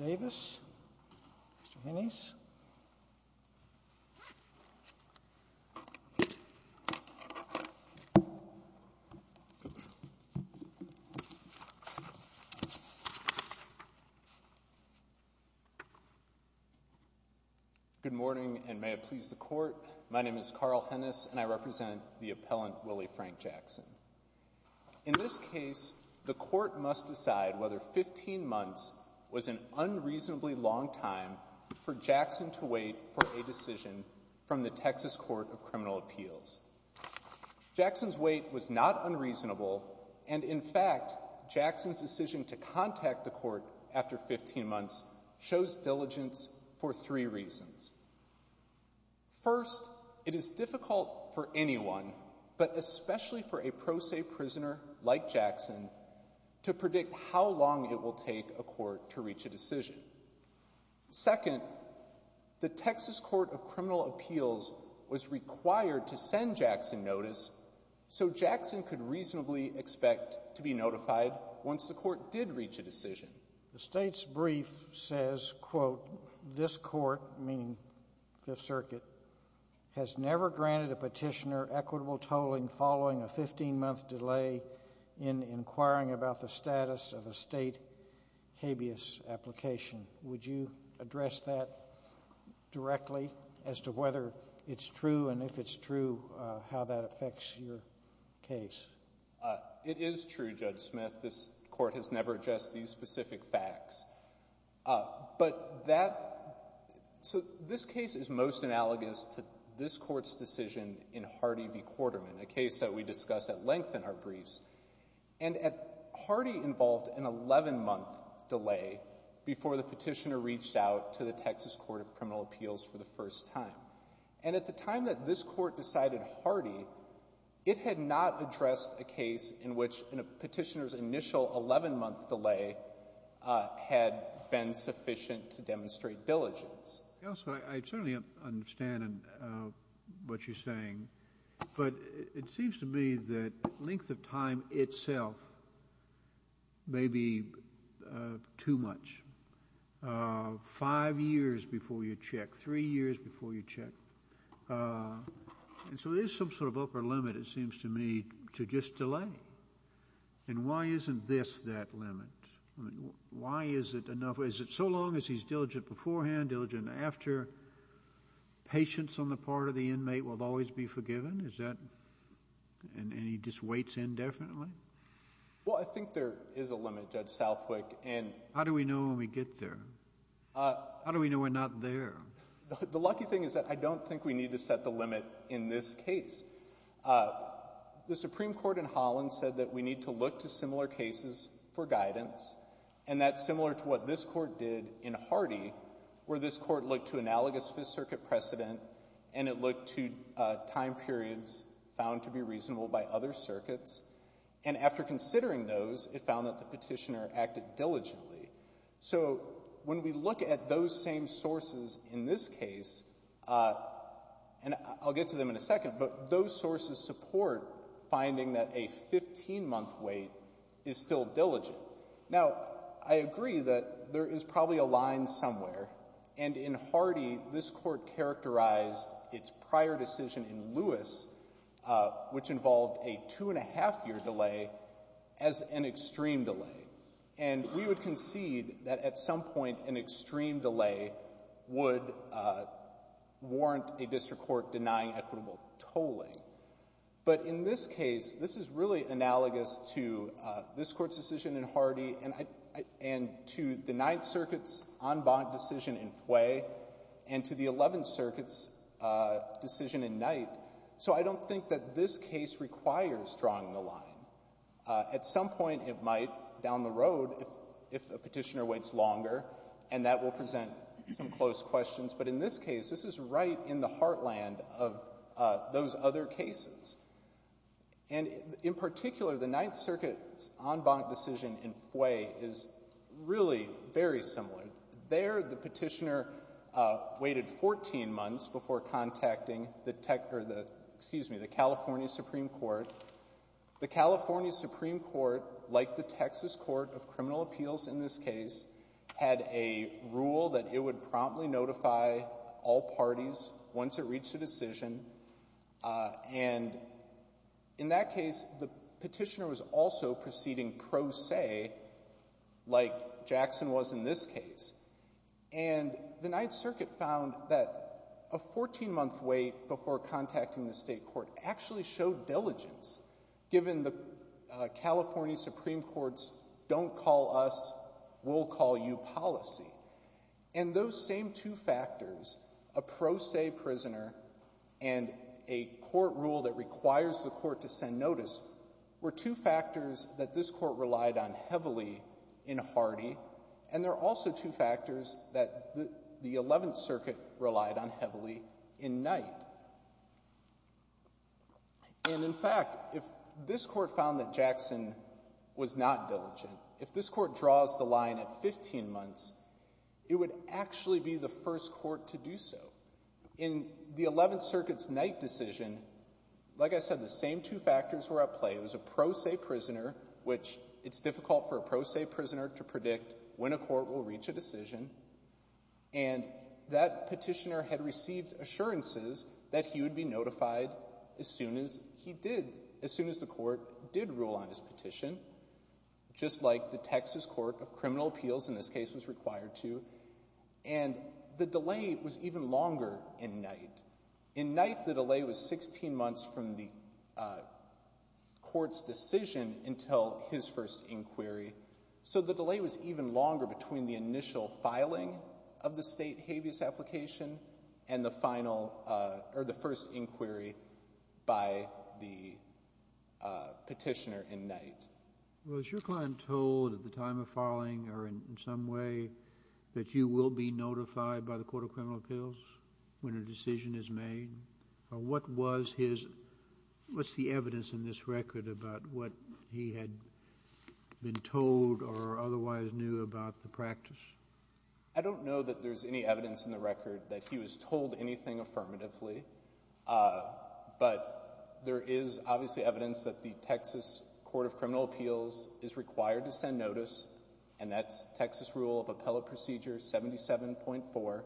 Good morning, and may it please the Court, my name is Carl Hennis, and I represent the appellant Willie Frank Jackson. In this case, the Court must decide whether 15 months was an unreasonably long time for Jackson to wait for a decision from the Texas Court of Criminal Appeals. Jackson's wait was not unreasonable, and in fact, Jackson's decision to contact the Court after 15 months shows diligence for three reasons. First, it is difficult for anyone, but especially for a pro se prisoner like Jackson, to predict how long it will take a court to reach a decision. Second, the Texas Court of Criminal Appeals was required to send Jackson notice so Jackson could reasonably expect to be notified once the Court did reach a decision. The State's brief says, quote, this Court, meaning Fifth Circuit, has never granted a petitioner equitable tolling following a 15-month delay in inquiring about the status of a State habeas application. Would you address that directly as to whether it's true, and if it's true, how that affects your case? It is true, Judge Smith. This Court has never addressed these specific facts. But that — so this case is most analogous to this Court's decision in Hardy v. Quarterman, a case that we discuss at length in our briefs. And at — Hardy involved an 11-month delay before the petitioner reached out to the Texas Court of Criminal Appeals for the first time. And at the time that this Court decided Hardy, it had not addressed a case in which a petitioner's initial 11-month delay had been sufficient to demonstrate diligence. Also, I certainly understand what you're saying, but it seems to me that length of time itself may be too much. Five years before you check, three years before you check. And so there's some sort of upper limit, it seems to me, to just delay. And why isn't this that limit? Why is it enough? Is it so long as he's diligent beforehand, diligent after, patience on the part of the inmate will always be forgiven? Is that — and he just waits indefinitely? Well, I think there is a limit, Judge Southwick, and — How do we know when we get there? How do we know we're not there? The lucky thing is that I don't think we need to set the limit in this case. The Supreme Court in Holland said that we need to look to similar cases for guidance, and that's similar to what this Court did in Hardy, where this Court looked to analogous Fifth Circuit precedent and it looked to time periods found to be reasonable by other circuits. And after considering those, it found that the Petitioner acted diligently. So when we look at those same sources in this case — and I'll get to them in a second, but those sources support finding that a 15-month wait is still diligent. Now, I agree that there is probably a line somewhere. And in Hardy, this Court characterized its prior decision in Lewis, which involved a two-and-a-half-year delay, as an extreme delay. And we would concede that at some point an extreme delay would warrant a district court denying equitable tolling. But in this case, this is really analogous to this Court's decision in Hardy and to the Ninth Circuit's en banc decision in Fway and to the Eleventh Circuit's decision in Knight. So I don't think that this case requires drawing the line. At some point it might down the road, if a Petitioner waits longer, and that will present some close questions. But in this case, this is right in the heartland of those other cases. And in particular, the Ninth Circuit's en banc decision in Fway is really very similar. There, the Petitioner waited 14 months before contacting the tech or the — excuse me, the California Supreme Court. The California Supreme Court, like the Texas Court of Criminal Appeals in this case, had a rule that it would promptly notify all parties once it reached a decision. And in that case, the Petitioner was also proceeding pro se, like Jackson was in this case. And the Ninth Circuit found that a 14-month wait before contacting the state court actually showed diligence, given the California Supreme Court's don't call us, we'll call you policy. And those same two factors, a pro se prisoner and a court rule that requires the Court to send notice, were two factors that this Court relied on heavily in Hardy. And they're also two factors that the Eleventh Circuit relied on heavily in Knight. And in fact, if this Court found that Jackson was not diligent, if this Court draws the line at 15 months, it would actually be the first court to do so. In the Eleventh Circuit's Knight decision, like I said, the same two factors were at play. It was a pro se prisoner, which it's difficult for a pro se prisoner to predict when a court will reach a decision. And that Petitioner had received assurances that he would be notified as soon as he did, as soon as the Court did rule on his petition, just like the Texas Court of Criminal Appeals in this case was required to. And the delay was even longer in Knight. In Knight, the delay was 16 months from the Court's decision until his first inquiry. So the delay was even longer between the initial filing of the State habeas application and the final or the first inquiry by the Petitioner in Knight. Kennedy. Was your client told at the time of filing or in some way that you will be notified by the Court of Criminal Appeals when a decision is made? What was his, what's the evidence in this record about what he had been told or otherwise knew about the practice? I don't know that there's any evidence in the record that he was told anything affirmatively. But there is obviously evidence that the Texas Court of Criminal Appeals is required to send notice, and that's Texas Rule of Appellate Procedure 77.4.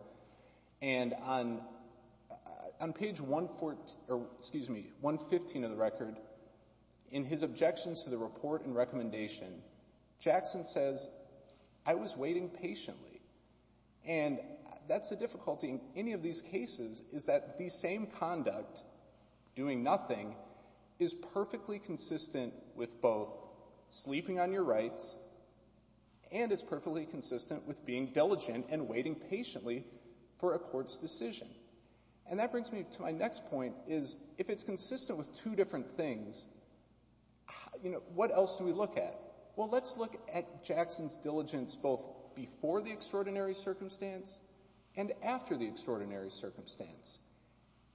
And on page 114, or excuse me, 115 of the record, in his objections to the report and recommendation, Jackson says, I was waiting patiently. And that's the difficulty in any of these cases, is that the same conduct, doing nothing, is perfectly consistent with both sleeping on your rights and it's perfectly consistent with being diligent and waiting patiently for a court's decision. And that brings me to my next point, is if it's consistent with two different things, you know, what else do we look at? Well, let's look at Jackson's diligence both before the extraordinary circumstance and after the extraordinary circumstance.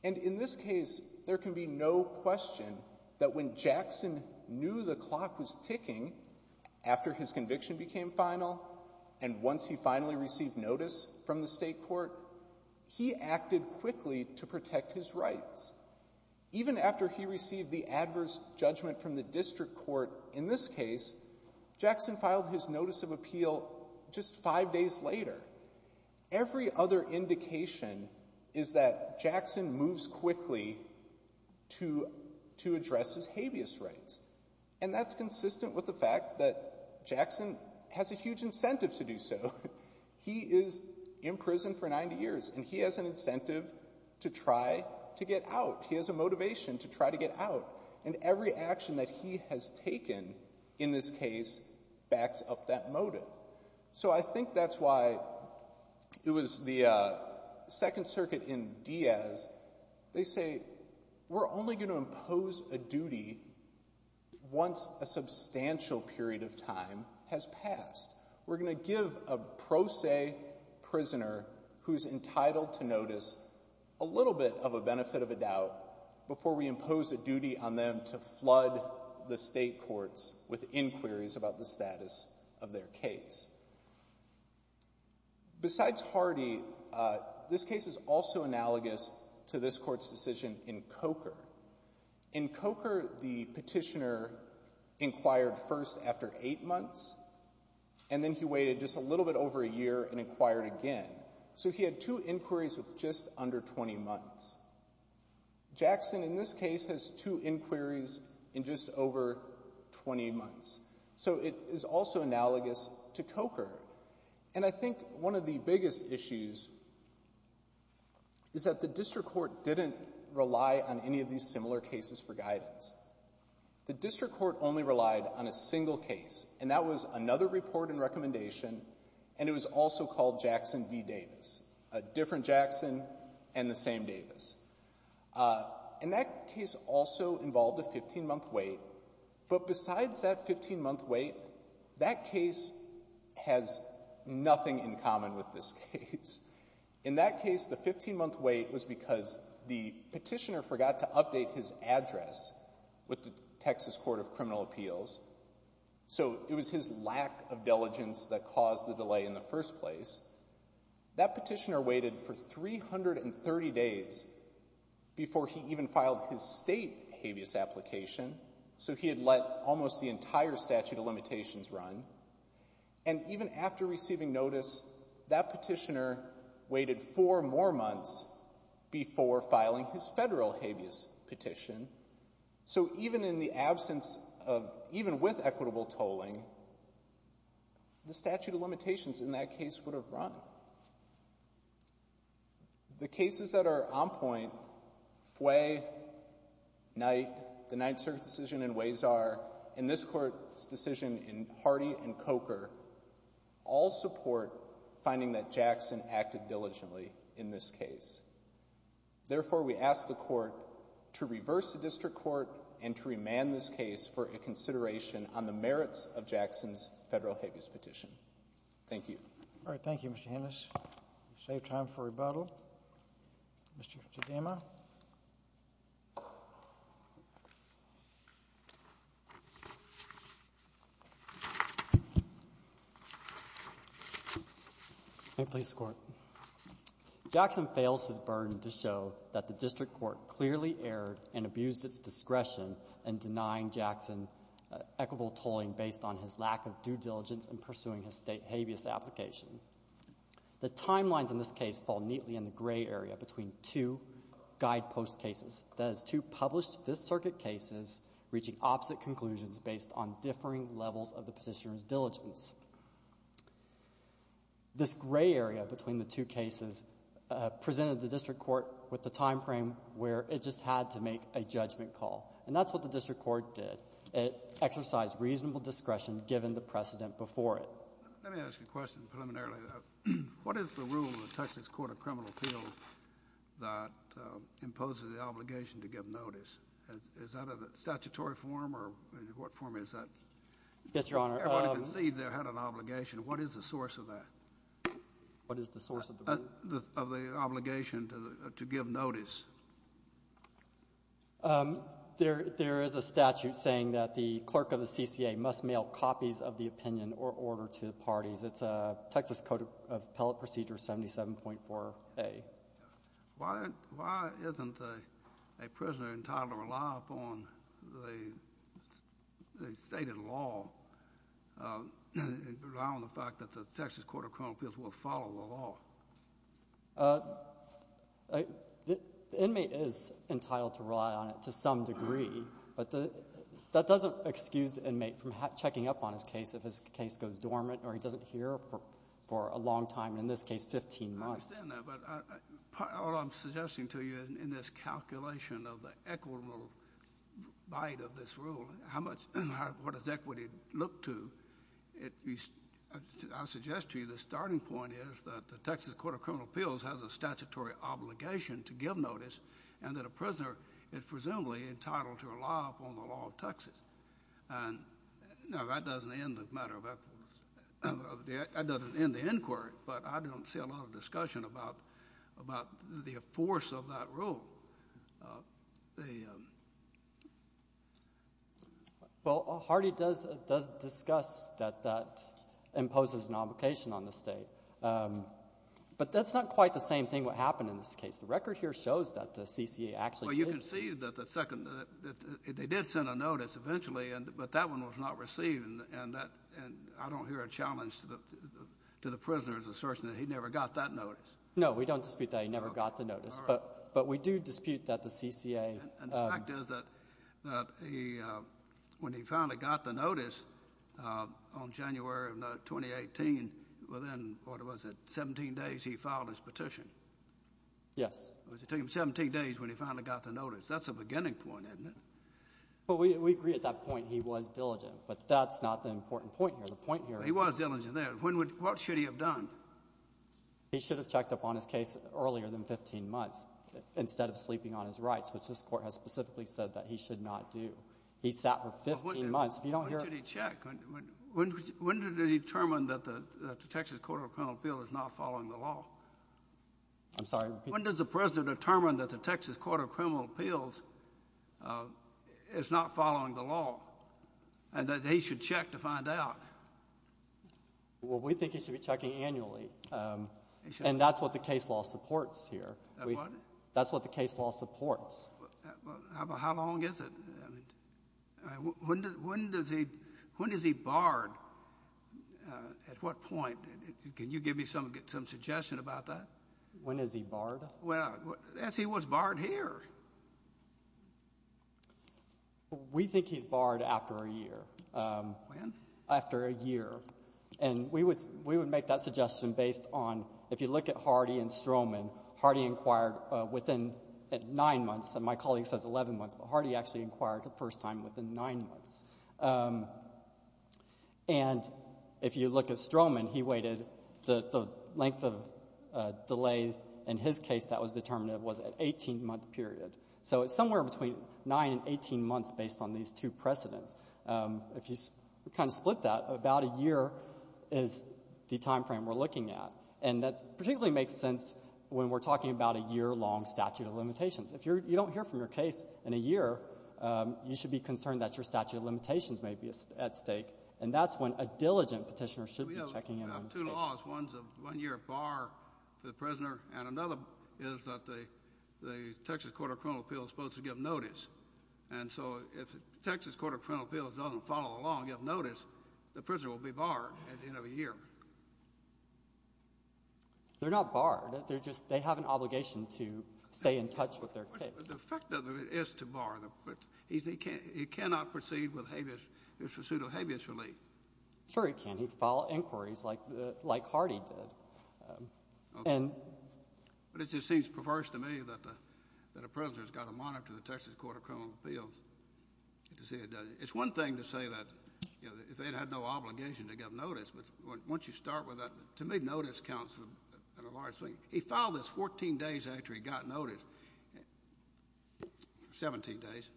And in this case, there can be no question that when Jackson knew the clock was ticking after his conviction became final and once he finally received notice from the state court, he acted quickly to protect his rights. Even after he received the adverse judgment from the district court in this case, Jackson filed his notice of appeal just five days later. Every other indication is that Jackson moves quickly to address his habeas rights. And that's consistent with the fact that Jackson has a huge incentive to do so. He is in prison for 90 years and he has an incentive to try to get out. He has a motivation to try to get out. And every action that he has taken in this case backs up that motive. So I think that's why it was the Second Circuit in Diaz, they say, we're only going to impose a duty once a substantial period of time has passed. We're going to give a pro se prisoner who's entitled to notice a little bit of a benefit of a doubt before we impose a duty on them to flood the state courts with inquiries about the status of their case. Besides Hardy, this case is also analogous to this court's decision in Coker. In Coker, the petitioner inquired first after eight months and then he waited just a little bit over a year and inquired again. So he had two inquiries with just under 20 months. Jackson, in this case, has two inquiries in just over 20 months. So it is also analogous to Coker. And I think one of the biggest issues is that the district court didn't rely on any of these similar cases for guidance. The district court only relied on a single case and that was another report and recommendation and it was also called Jackson v. Davis, a different Jackson and the same Davis. And that case also involved a 15-month wait. But besides that 15-month wait, that case has nothing in common with this case. In that case, the 15-month wait was because the petitioner forgot to update his address with the Texas Court of Criminal Appeals. So it was his lack of diligence that caused the delay in the first place. That petitioner waited for 330 days before he even filed his state habeas application. So he had let almost the entire statute of limitations run. And even after receiving notice, that petitioner waited four more months before filing his federal habeas petition. So even in the absence of, even with equitable tolling, the statute of limitations in that case would have run. The cases that are on point, Fway, Knight, the Knight Circuit decision in Wazar, and this court's decision in Hardy and Coker, all support finding that Jackson acted diligently in this case. Therefore, we ask the court to reverse the district court and to remand this case for a consideration on the merits of Jackson v. Davis. Thank you. Roberts. Thank you, Mr. Hannis. We'll save time for rebuttal. Mr. Chidema. May it please the Court. Jackson fails his burden to show that the district court clearly erred and abused its discretion in denying Jackson equitable tolling based on his lack of due diligence in pursuing his state habeas application. The timelines in this case fall neatly in the gray area between two guidepost cases, that is, two published Fifth Circuit cases reaching opposite conclusions based on differing levels of the petitioner's diligence. This gray area between the two cases presented the district court with the time frame where it just had to make a judgment call. And that's what the district court did. It exercised reasonable discretion given the precedent before it. Let me ask you a question preliminarily, though. What is the rule in the Texas Court of Criminal Appeals that imposes the obligation to give notice? Is that a statutory form or what form is that? Yes, Your Honor. Everyone who concedes there had an obligation. What is the source of that? What is the source of the rule? Of the obligation to give notice? There is a statute saying that the clerk of the CCA must mail copies of the opinion or order to the parties. It's a Texas Code of Appellate Procedure 77.4a. Why isn't a prisoner entitled to rely upon the stated law and rely on the fact that the Texas Court of Criminal Appeals will follow the law? The inmate is entitled to rely on it to some degree. But that doesn't excuse the inmate from checking up on his case if his case goes dormant or he doesn't hear for a long time, in this case, 15 months. I understand that. But all I'm suggesting to you in this calculation of the equitable bite of this rule, what does equity look to, I suggest to you the starting point is that the Texas Court of Criminal Appeals has a statutory obligation to give notice and that a prisoner is presumably entitled to rely upon the law of Texas. And, no, that doesn't end the matter of equity. That doesn't end the inquiry. But I don't see a lot of discussion about the force of that rule. Well, Hardy does discuss that that imposes an obligation on the State. But that's not quite the same thing what happened in this case. The record here shows that the CCA actually did. Well, you can see that the second, that they did send a notice eventually, but that one was not received. And I don't hear a challenge to the prisoner's assertion that he never got that notice. No, we don't dispute that he never got the notice. But we do dispute that the CCA. And the fact is that when he finally got the notice on January of 2018, within, what was it, 17 days, he filed his petition. Yes. It took him 17 days when he finally got the notice. That's a beginning point, isn't it? Well, we agree at that point he was diligent. But that's not the important point here. The point here is— He was diligent there. What should he have done? He should have checked up on his case earlier than 15 months instead of sleeping on his rights, which this Court has specifically said that he should not do. He sat for 15 months. If you don't hear— When should he check? When did they determine that the Texas Court of Criminal Appeals is not following the law? I'm sorry? When does the President determine that the Texas Court of Criminal Appeals is not following the law and that he should check to find out? Well, we think he should be checking annually. And that's what the case law supports here. That's what the case law supports. How long is it? When is he barred? At what point? Can you give me some suggestion about that? When is he barred? Well, as he was barred here. We think he's barred after a year. When? After a year. And we would make that suggestion based on— within nine months. And my colleague says 11 months, but Hardy actually inquired the first time within nine months. And if you look at Stroman, he waited—the length of delay in his case that was determined was an 18-month period. So it's somewhere between 9 and 18 months based on these two precedents. If you kind of split that, about a year is the time frame we're looking at. And that particularly makes sense when we're talking about a year-long statute of limitations. If you don't hear from your case in a year, you should be concerned that your statute of limitations may be at stake. And that's when a diligent petitioner should be checking in on the case. We have two laws. One's a one-year bar for the prisoner, and another is that the Texas Court of Criminal Appeals is supposed to give notice. And so if the Texas Court of Criminal Appeals doesn't follow the law and give notice, the prisoner will be barred at the end of a year. They're not barred. They're just — they have an obligation to stay in touch with their case. But the effect of it is to bar them. He cannot proceed with habeas — the pursuit of habeas relief. Sure he can. He can file inquiries like Hardy did. And — But it just seems perverse to me that a prisoner has got to monitor the Texas Court of Criminal Appeals to see it does it. It's one thing to say that, you know, if they'd had no obligation to give notice. Once you start with that — to me, notice counts in a large way. He filed this 14 days after he got notice. Seventeen days.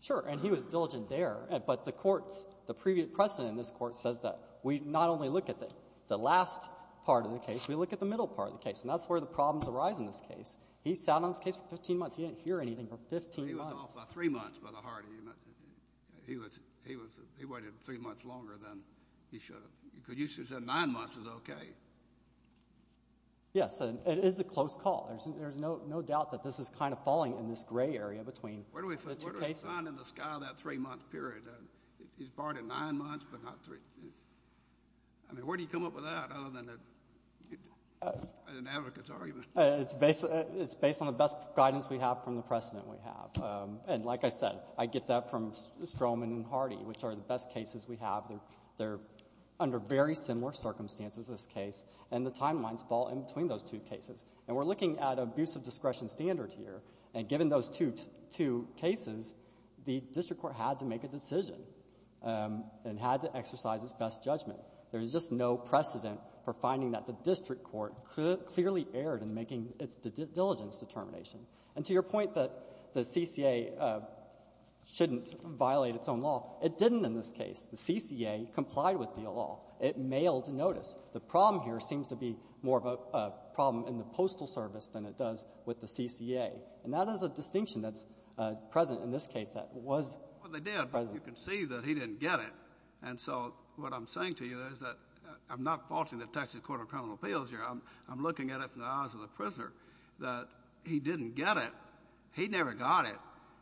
Sure. And he was diligent there. But the court's — the previous precedent in this court says that we not only look at the last part of the case, we look at the middle part of the case. And that's where the problems arise in this case. He sat on this case for 15 months. He didn't hear anything for 15 months. He was off by three months by the heart of the — he was — he was — he waited three months longer than he should have. Because you should have said nine months is okay. Yes. It is a close call. There's no — no doubt that this is kind of falling in this gray area between the two cases. Where do we find in the sky that three-month period? He's barred at nine months, but not three. I mean, where do you come up with that, other than an advocate's argument? It's based — it's based on the best guidance we have from the precedent we have. And like I said, I get that from Stroman and Hardy, which are the best cases we have. They're under very similar circumstances, this case. And the timelines fall in between those two cases. And we're looking at abusive discretion standard here. And given those two cases, the district court had to make a decision and had to exercise its best judgment. There's just no precedent for finding that the district court clearly erred in making its diligence determination. And to your point that the CCA shouldn't violate its own law, it didn't in this case. The CCA complied with the law. It mailed notice. The problem here seems to be more of a problem in the Postal Service than it does with the CCA. And that is a distinction that's present in this case that was present. Well, they did, but you can see that he didn't get it. And so what I'm saying to you is that I'm not faulting the Texas Court of Criminal Appeals here. I'm looking at it from the eyes of the prisoner, that he didn't get it. He never got it.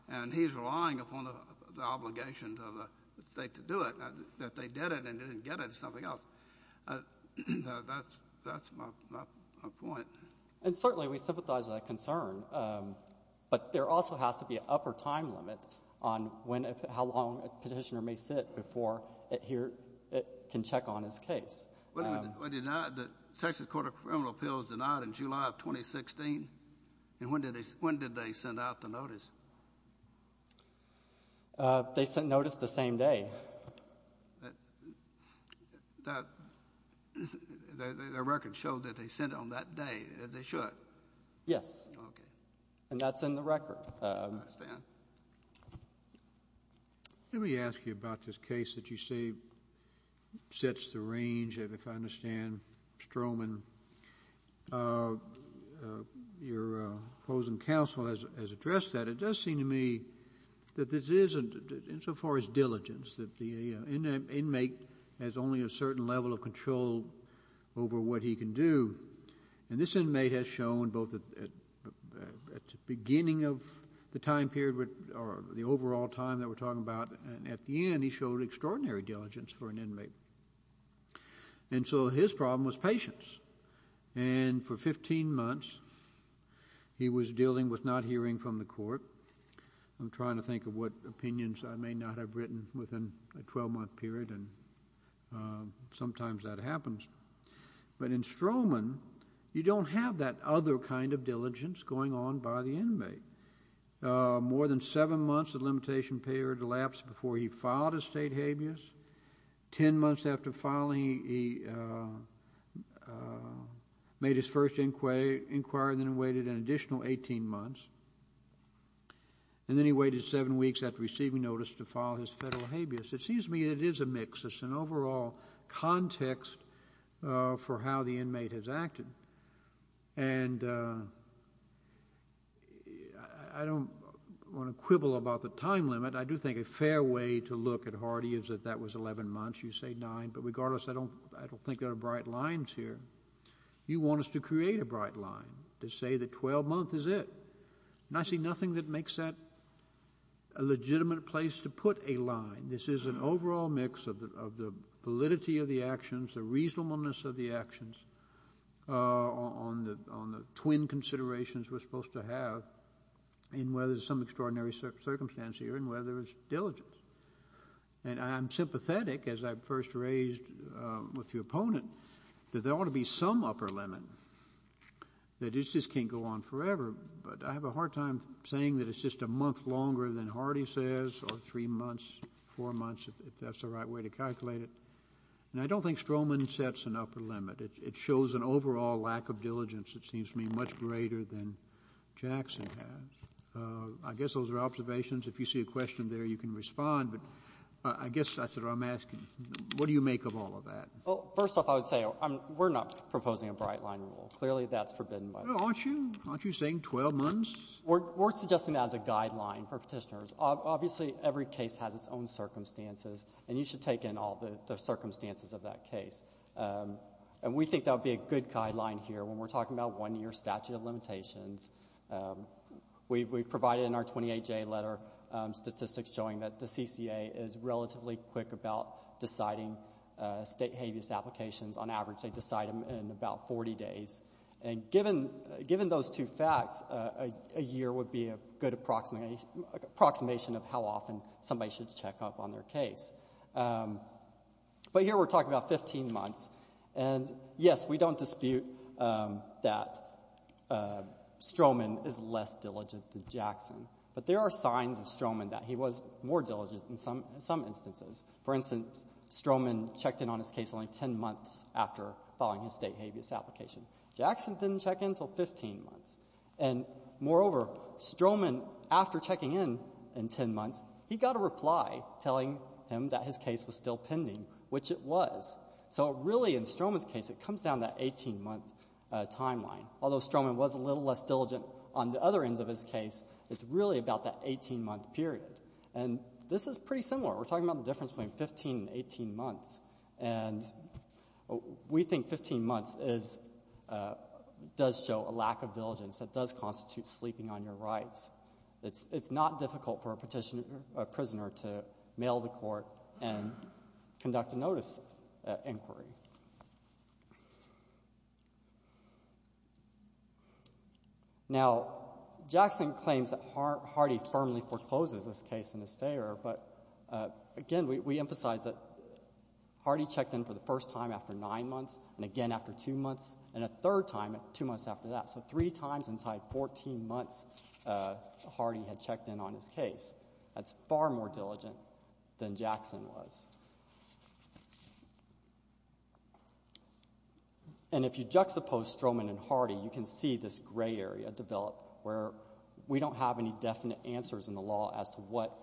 And he's relying upon the obligations of the State to do it, that they did it and didn't get it. It's something else. That's my point. And certainly we sympathize with that concern, but there also has to be an upper time limit on when and how long a petitioner may sit before it can check on his case. Was the Texas Court of Criminal Appeals denied in July of 2016? And when did they send out the notice? They sent notice the same day. The record showed that they sent it on that day, as they should? Yes. And that's in the record. Let me ask you about this case that you say sets the range, if I understand it, Mr. Strohman. Your opposing counsel has addressed that. It does seem to me that this is, insofar as diligence, that the inmate has only a certain level of control over what he can do. And this inmate has shown, both at the beginning of the time period or the overall time that we're talking about, and at the end, he showed extraordinary diligence for an inmate. And so his problem was patience. And for 15 months, he was dealing with not hearing from the court. I'm trying to think of what opinions I may not have written within a 12-month period, and sometimes that happens. But in Strohman, you don't have that other kind of diligence going on by the inmate. More than seven months, the limitation period elapsed before he filed his state filing. He made his first inquiry, then waited an additional 18 months. And then he waited seven weeks after receiving notice to file his federal habeas. It seems to me it is a mix. It's an overall context for how the inmate has acted. And I don't want to quibble about the time limit. I do think a fair way to look at Hardy is that that was 11 months. You say nine, but regardless, I don't think there are bright lines here. You want us to create a bright line to say that 12 months is it. And I see nothing that makes that a legitimate place to put a line. This is an overall mix of the validity of the actions, the reasonableness of the actions on the twin considerations we're supposed to have in whether there's some extraordinary circumstance here and whether it's diligence. And I'm sympathetic, as I first raised with the opponent, that there ought to be some upper limit. That this just can't go on forever. But I have a hard time saying that it's just a month longer than Hardy says or three months, four months, if that's the right way to calculate it. And I don't think Stroman sets an upper limit. It shows an overall lack of diligence, it seems to me, much greater than Jackson has. I guess those are observations. If you see a question there, you can respond. But I guess that's what I'm asking. What do you make of all of that? Well, first off, I would say we're not proposing a bright line rule. Clearly, that's forbidden by law. Aren't you? Aren't you saying 12 months? We're suggesting that as a guideline for petitioners. Obviously, every case has its own circumstances, and you should take in all the circumstances of that case. statute of limitations. We've provided in our 28-J letter statistics showing that the CCA is relatively quick about deciding state habeas applications. On average, they decide them in about 40 days. And given those two facts, a year would be a good approximation of how often somebody should check up on their case. But here we're talking about 15 months. And, yes, we don't dispute that Stroman is less diligent than Jackson. But there are signs of Stroman that he was more diligent in some instances. For instance, Stroman checked in on his case only 10 months after filing his state habeas application. Jackson didn't check in until 15 months. And, moreover, Stroman, after checking in in 10 months, he got a reply telling him that his case was still pending, which it was. So really, in Stroman's case, it comes down to that 18-month timeline. Although Stroman was a little less diligent on the other ends of his case, it's really about that 18-month period. And this is pretty similar. We're talking about the difference between 15 and 18 months. And we think 15 months is — does show a lack of diligence. It does constitute sleeping on your rights. It's not difficult for a petitioner — a prisoner to mail to court and conduct a inquiry. Now, Jackson claims that Hardy firmly forecloses this case in his favor. But, again, we emphasize that Hardy checked in for the first time after nine months, and again after two months, and a third time two months after that. So three times inside 14 months, Hardy had checked in on his case. That's far more diligent than Jackson was. And if you juxtapose Stroman and Hardy, you can see this gray area develop where we don't have any definite answers in the law as to what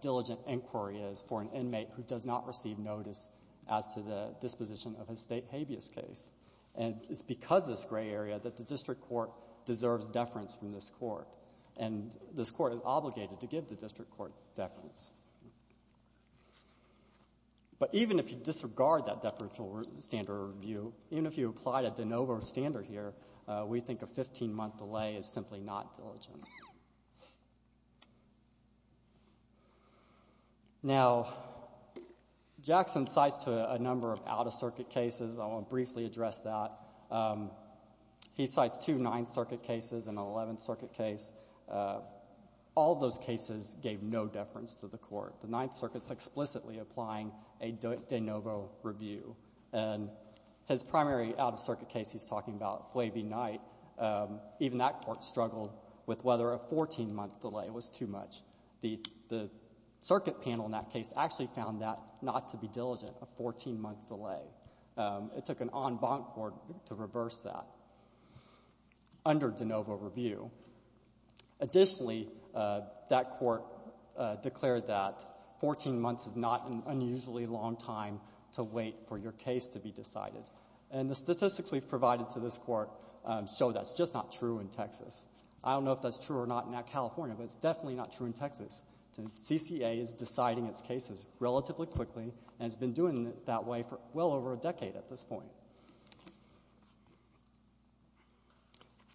diligent inquiry is for an inmate who does not receive notice as to the disposition of a state habeas case. And it's because of this gray area that the district court deserves deference from this court. And this court is obligated to give the district court deference. But even if you disregard that deferential standard review, even if you apply a de novo standard here, we think a 15-month delay is simply not diligent. Now, Jackson cites a number of out-of-circuit cases. I want to briefly address that. He cites two Ninth Circuit cases and an Eleventh Circuit case. The Ninth Circuit is explicitly applying a de novo review. And his primary out-of-circuit case he's talking about, Flay v. Knight, even that court struggled with whether a 14-month delay was too much. The circuit panel in that case actually found that not to be diligent, a 14-month delay. It took an en banc court to reverse that under de novo review. Additionally, that court declared that 14 months is not an unusually long time to wait for your case to be decided. And the statistics we've provided to this court show that's just not true in Texas. I don't know if that's true or not in California, but it's definitely not true in Texas. CCA is deciding its cases relatively quickly and has been doing it that way for well over a decade at this point.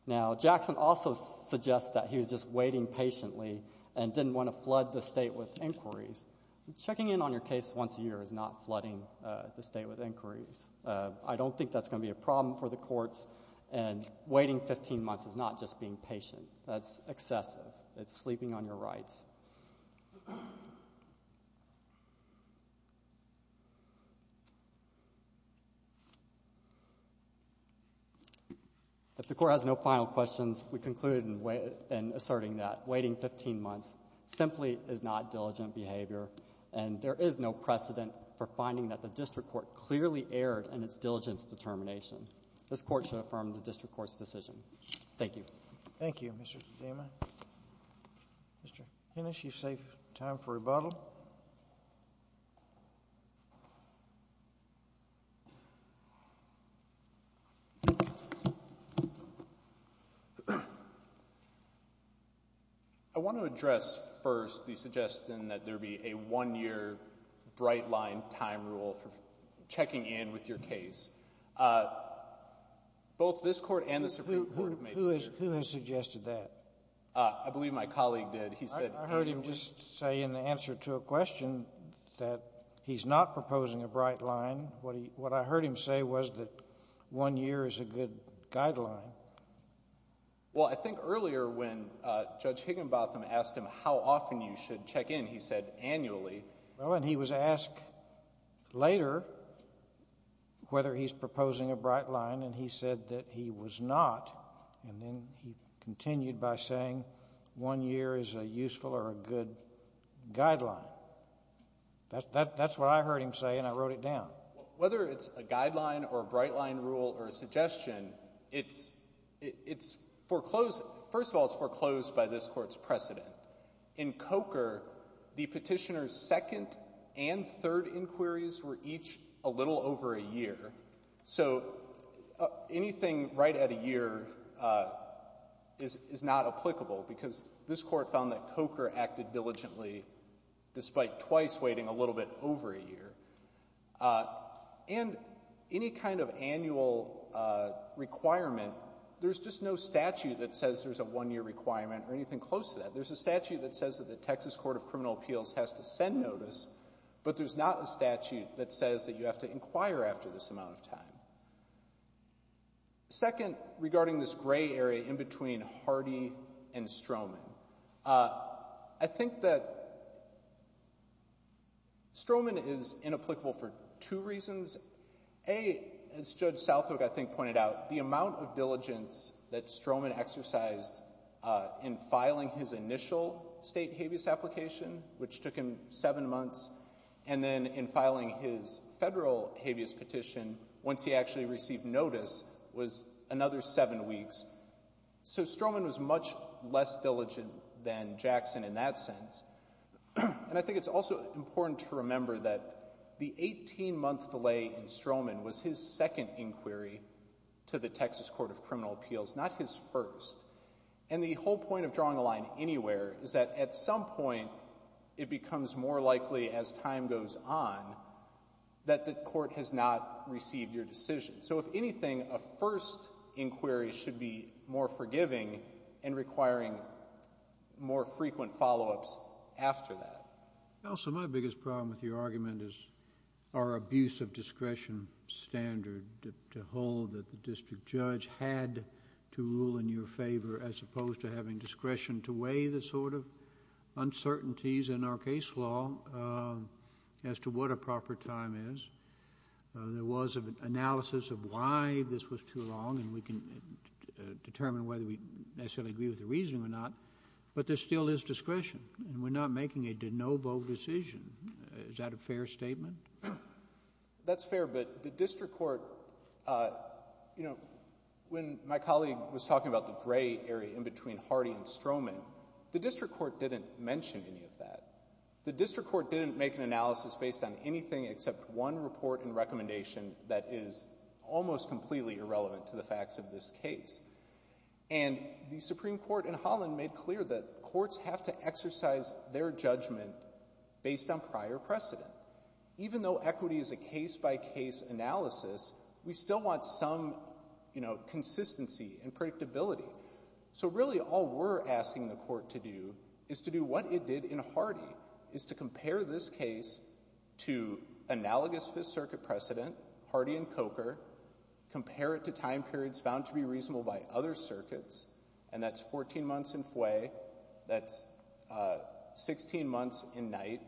Now, Jackson also suggests that he was just waiting patiently and didn't want to flood the state with inquiries. Checking in on your case once a year is not flooding the state with inquiries. I don't think that's going to be a problem for the courts. And waiting 15 months is not just being patient. That's excessive. It's sleeping on your rights. If the Court has no final questions, we conclude in asserting that waiting 15 months simply is not diligent behavior, and there is no precedent for finding that the district court clearly erred in its diligence determination. This Court should affirm the district court's decision. Thank you. Thank you, Mr. DeMa. Mr. Hennis, you've saved time for rebuttal. I want to address first the suggestion that there be a one-year bright line time rule for checking in with your case. Both this Court and the Supreme Court have made this suggestion. Who has suggested that? I believe my colleague did. I heard him just say in the answer to a question that he's not proposing a bright line. What I heard him say was that one year is a good guideline. Well, I think earlier when Judge Higginbotham asked him how often you should check in, he said annually. Well, and he was asked later whether he's proposing a bright line, and he said that he was not. And then he continued by saying one year is a useful or a good guideline. That's what I heard him say, and I wrote it down. Whether it's a guideline or a bright line rule or a suggestion, it's foreclosed. First of all, it's foreclosed by this Court's precedent. In Coker, the Petitioner's second and third inquiries were each a little over a year. So anything right at a year is not applicable because this Court found that Coker acted diligently despite twice waiting a little bit over a year. And any kind of annual requirement, there's just no statute that says there's a one-year requirement or anything close to that. There's a statute that says that the Texas Court of Criminal Appeals has to send notice, but there's not a statute that says that you have to inquire after this amount of time. Second, regarding this gray area in between Hardy and Stroman, I think that it's inapplicable for two reasons. A, as Judge Southwick, I think, pointed out, the amount of diligence that Stroman exercised in filing his initial state habeas application, which took him seven months, and then in filing his federal habeas petition, once he actually received notice, was another seven weeks. So Stroman was much less diligent than Jackson in that sense. And I think it's also important to remember that the 18-month delay in Stroman was his second inquiry to the Texas Court of Criminal Appeals, not his first. And the whole point of drawing a line anywhere is that at some point, it becomes more likely as time goes on that the Court has not received your decision. So if anything, a first inquiry should be more forgiving and requiring more frequent follow-ups after that. JUSTICE SCALIA. Counsel, my biggest problem with your argument is our abuse of discretion standard to hold that the district judge had to rule in your favor, as opposed to having discretion to weigh the sort of uncertainties in our case law as to what a proper time is. There was an analysis of why this was too long, and we can determine whether we necessarily agree with the reasoning or not, but there still is discretion, and we're not making a de novo decision. Is that a fair statement? MR. ZUNIGA. That's fair, but the district court, you know, when my colleague was talking about the gray area in between Hardy and Stroman, the district court didn't mention any of that. The district court didn't make an analysis based on anything except one report and recommendation that is almost completely irrelevant to the facts of this case. And the Supreme Court in Holland made clear that courts have to exercise their judgment based on prior precedent. Even though equity is a case-by-case analysis, we still want some, you know, consistency and predictability. So, really, all we're asking the court to do is to do what it did in Hardy, is to compare this case to analogous Fifth Circuit precedent, Hardy and Coker, compare it to time periods found to be reasonable by other circuits, and that's 14 months in Fway, that's 16 months in Knight,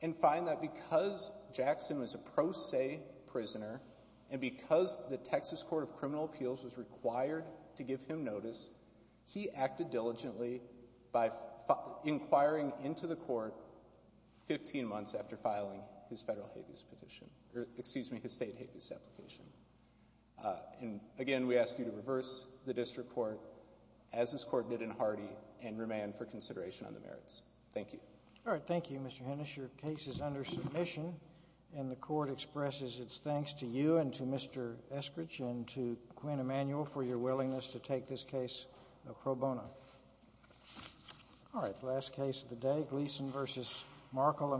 and find that because Jackson was a pro se prisoner and because the Texas Court of Criminal Appeals was required to give him notice, he acted diligently by inquiring into the court 15 months after filing his federal habeas petition, or excuse me, his state habeas application. And, again, we ask you to reverse the district court as this court did in Hardy and remain for consideration on the merits. Thank you. All right. Thank you, Mr. Hennis. Your case is under submission, and the court expresses its thanks to you and to Mr. Eskridge and to Queen Emanuel for your willingness to take this case pro bono. All right. Last case of the day, Gleason v. Markle.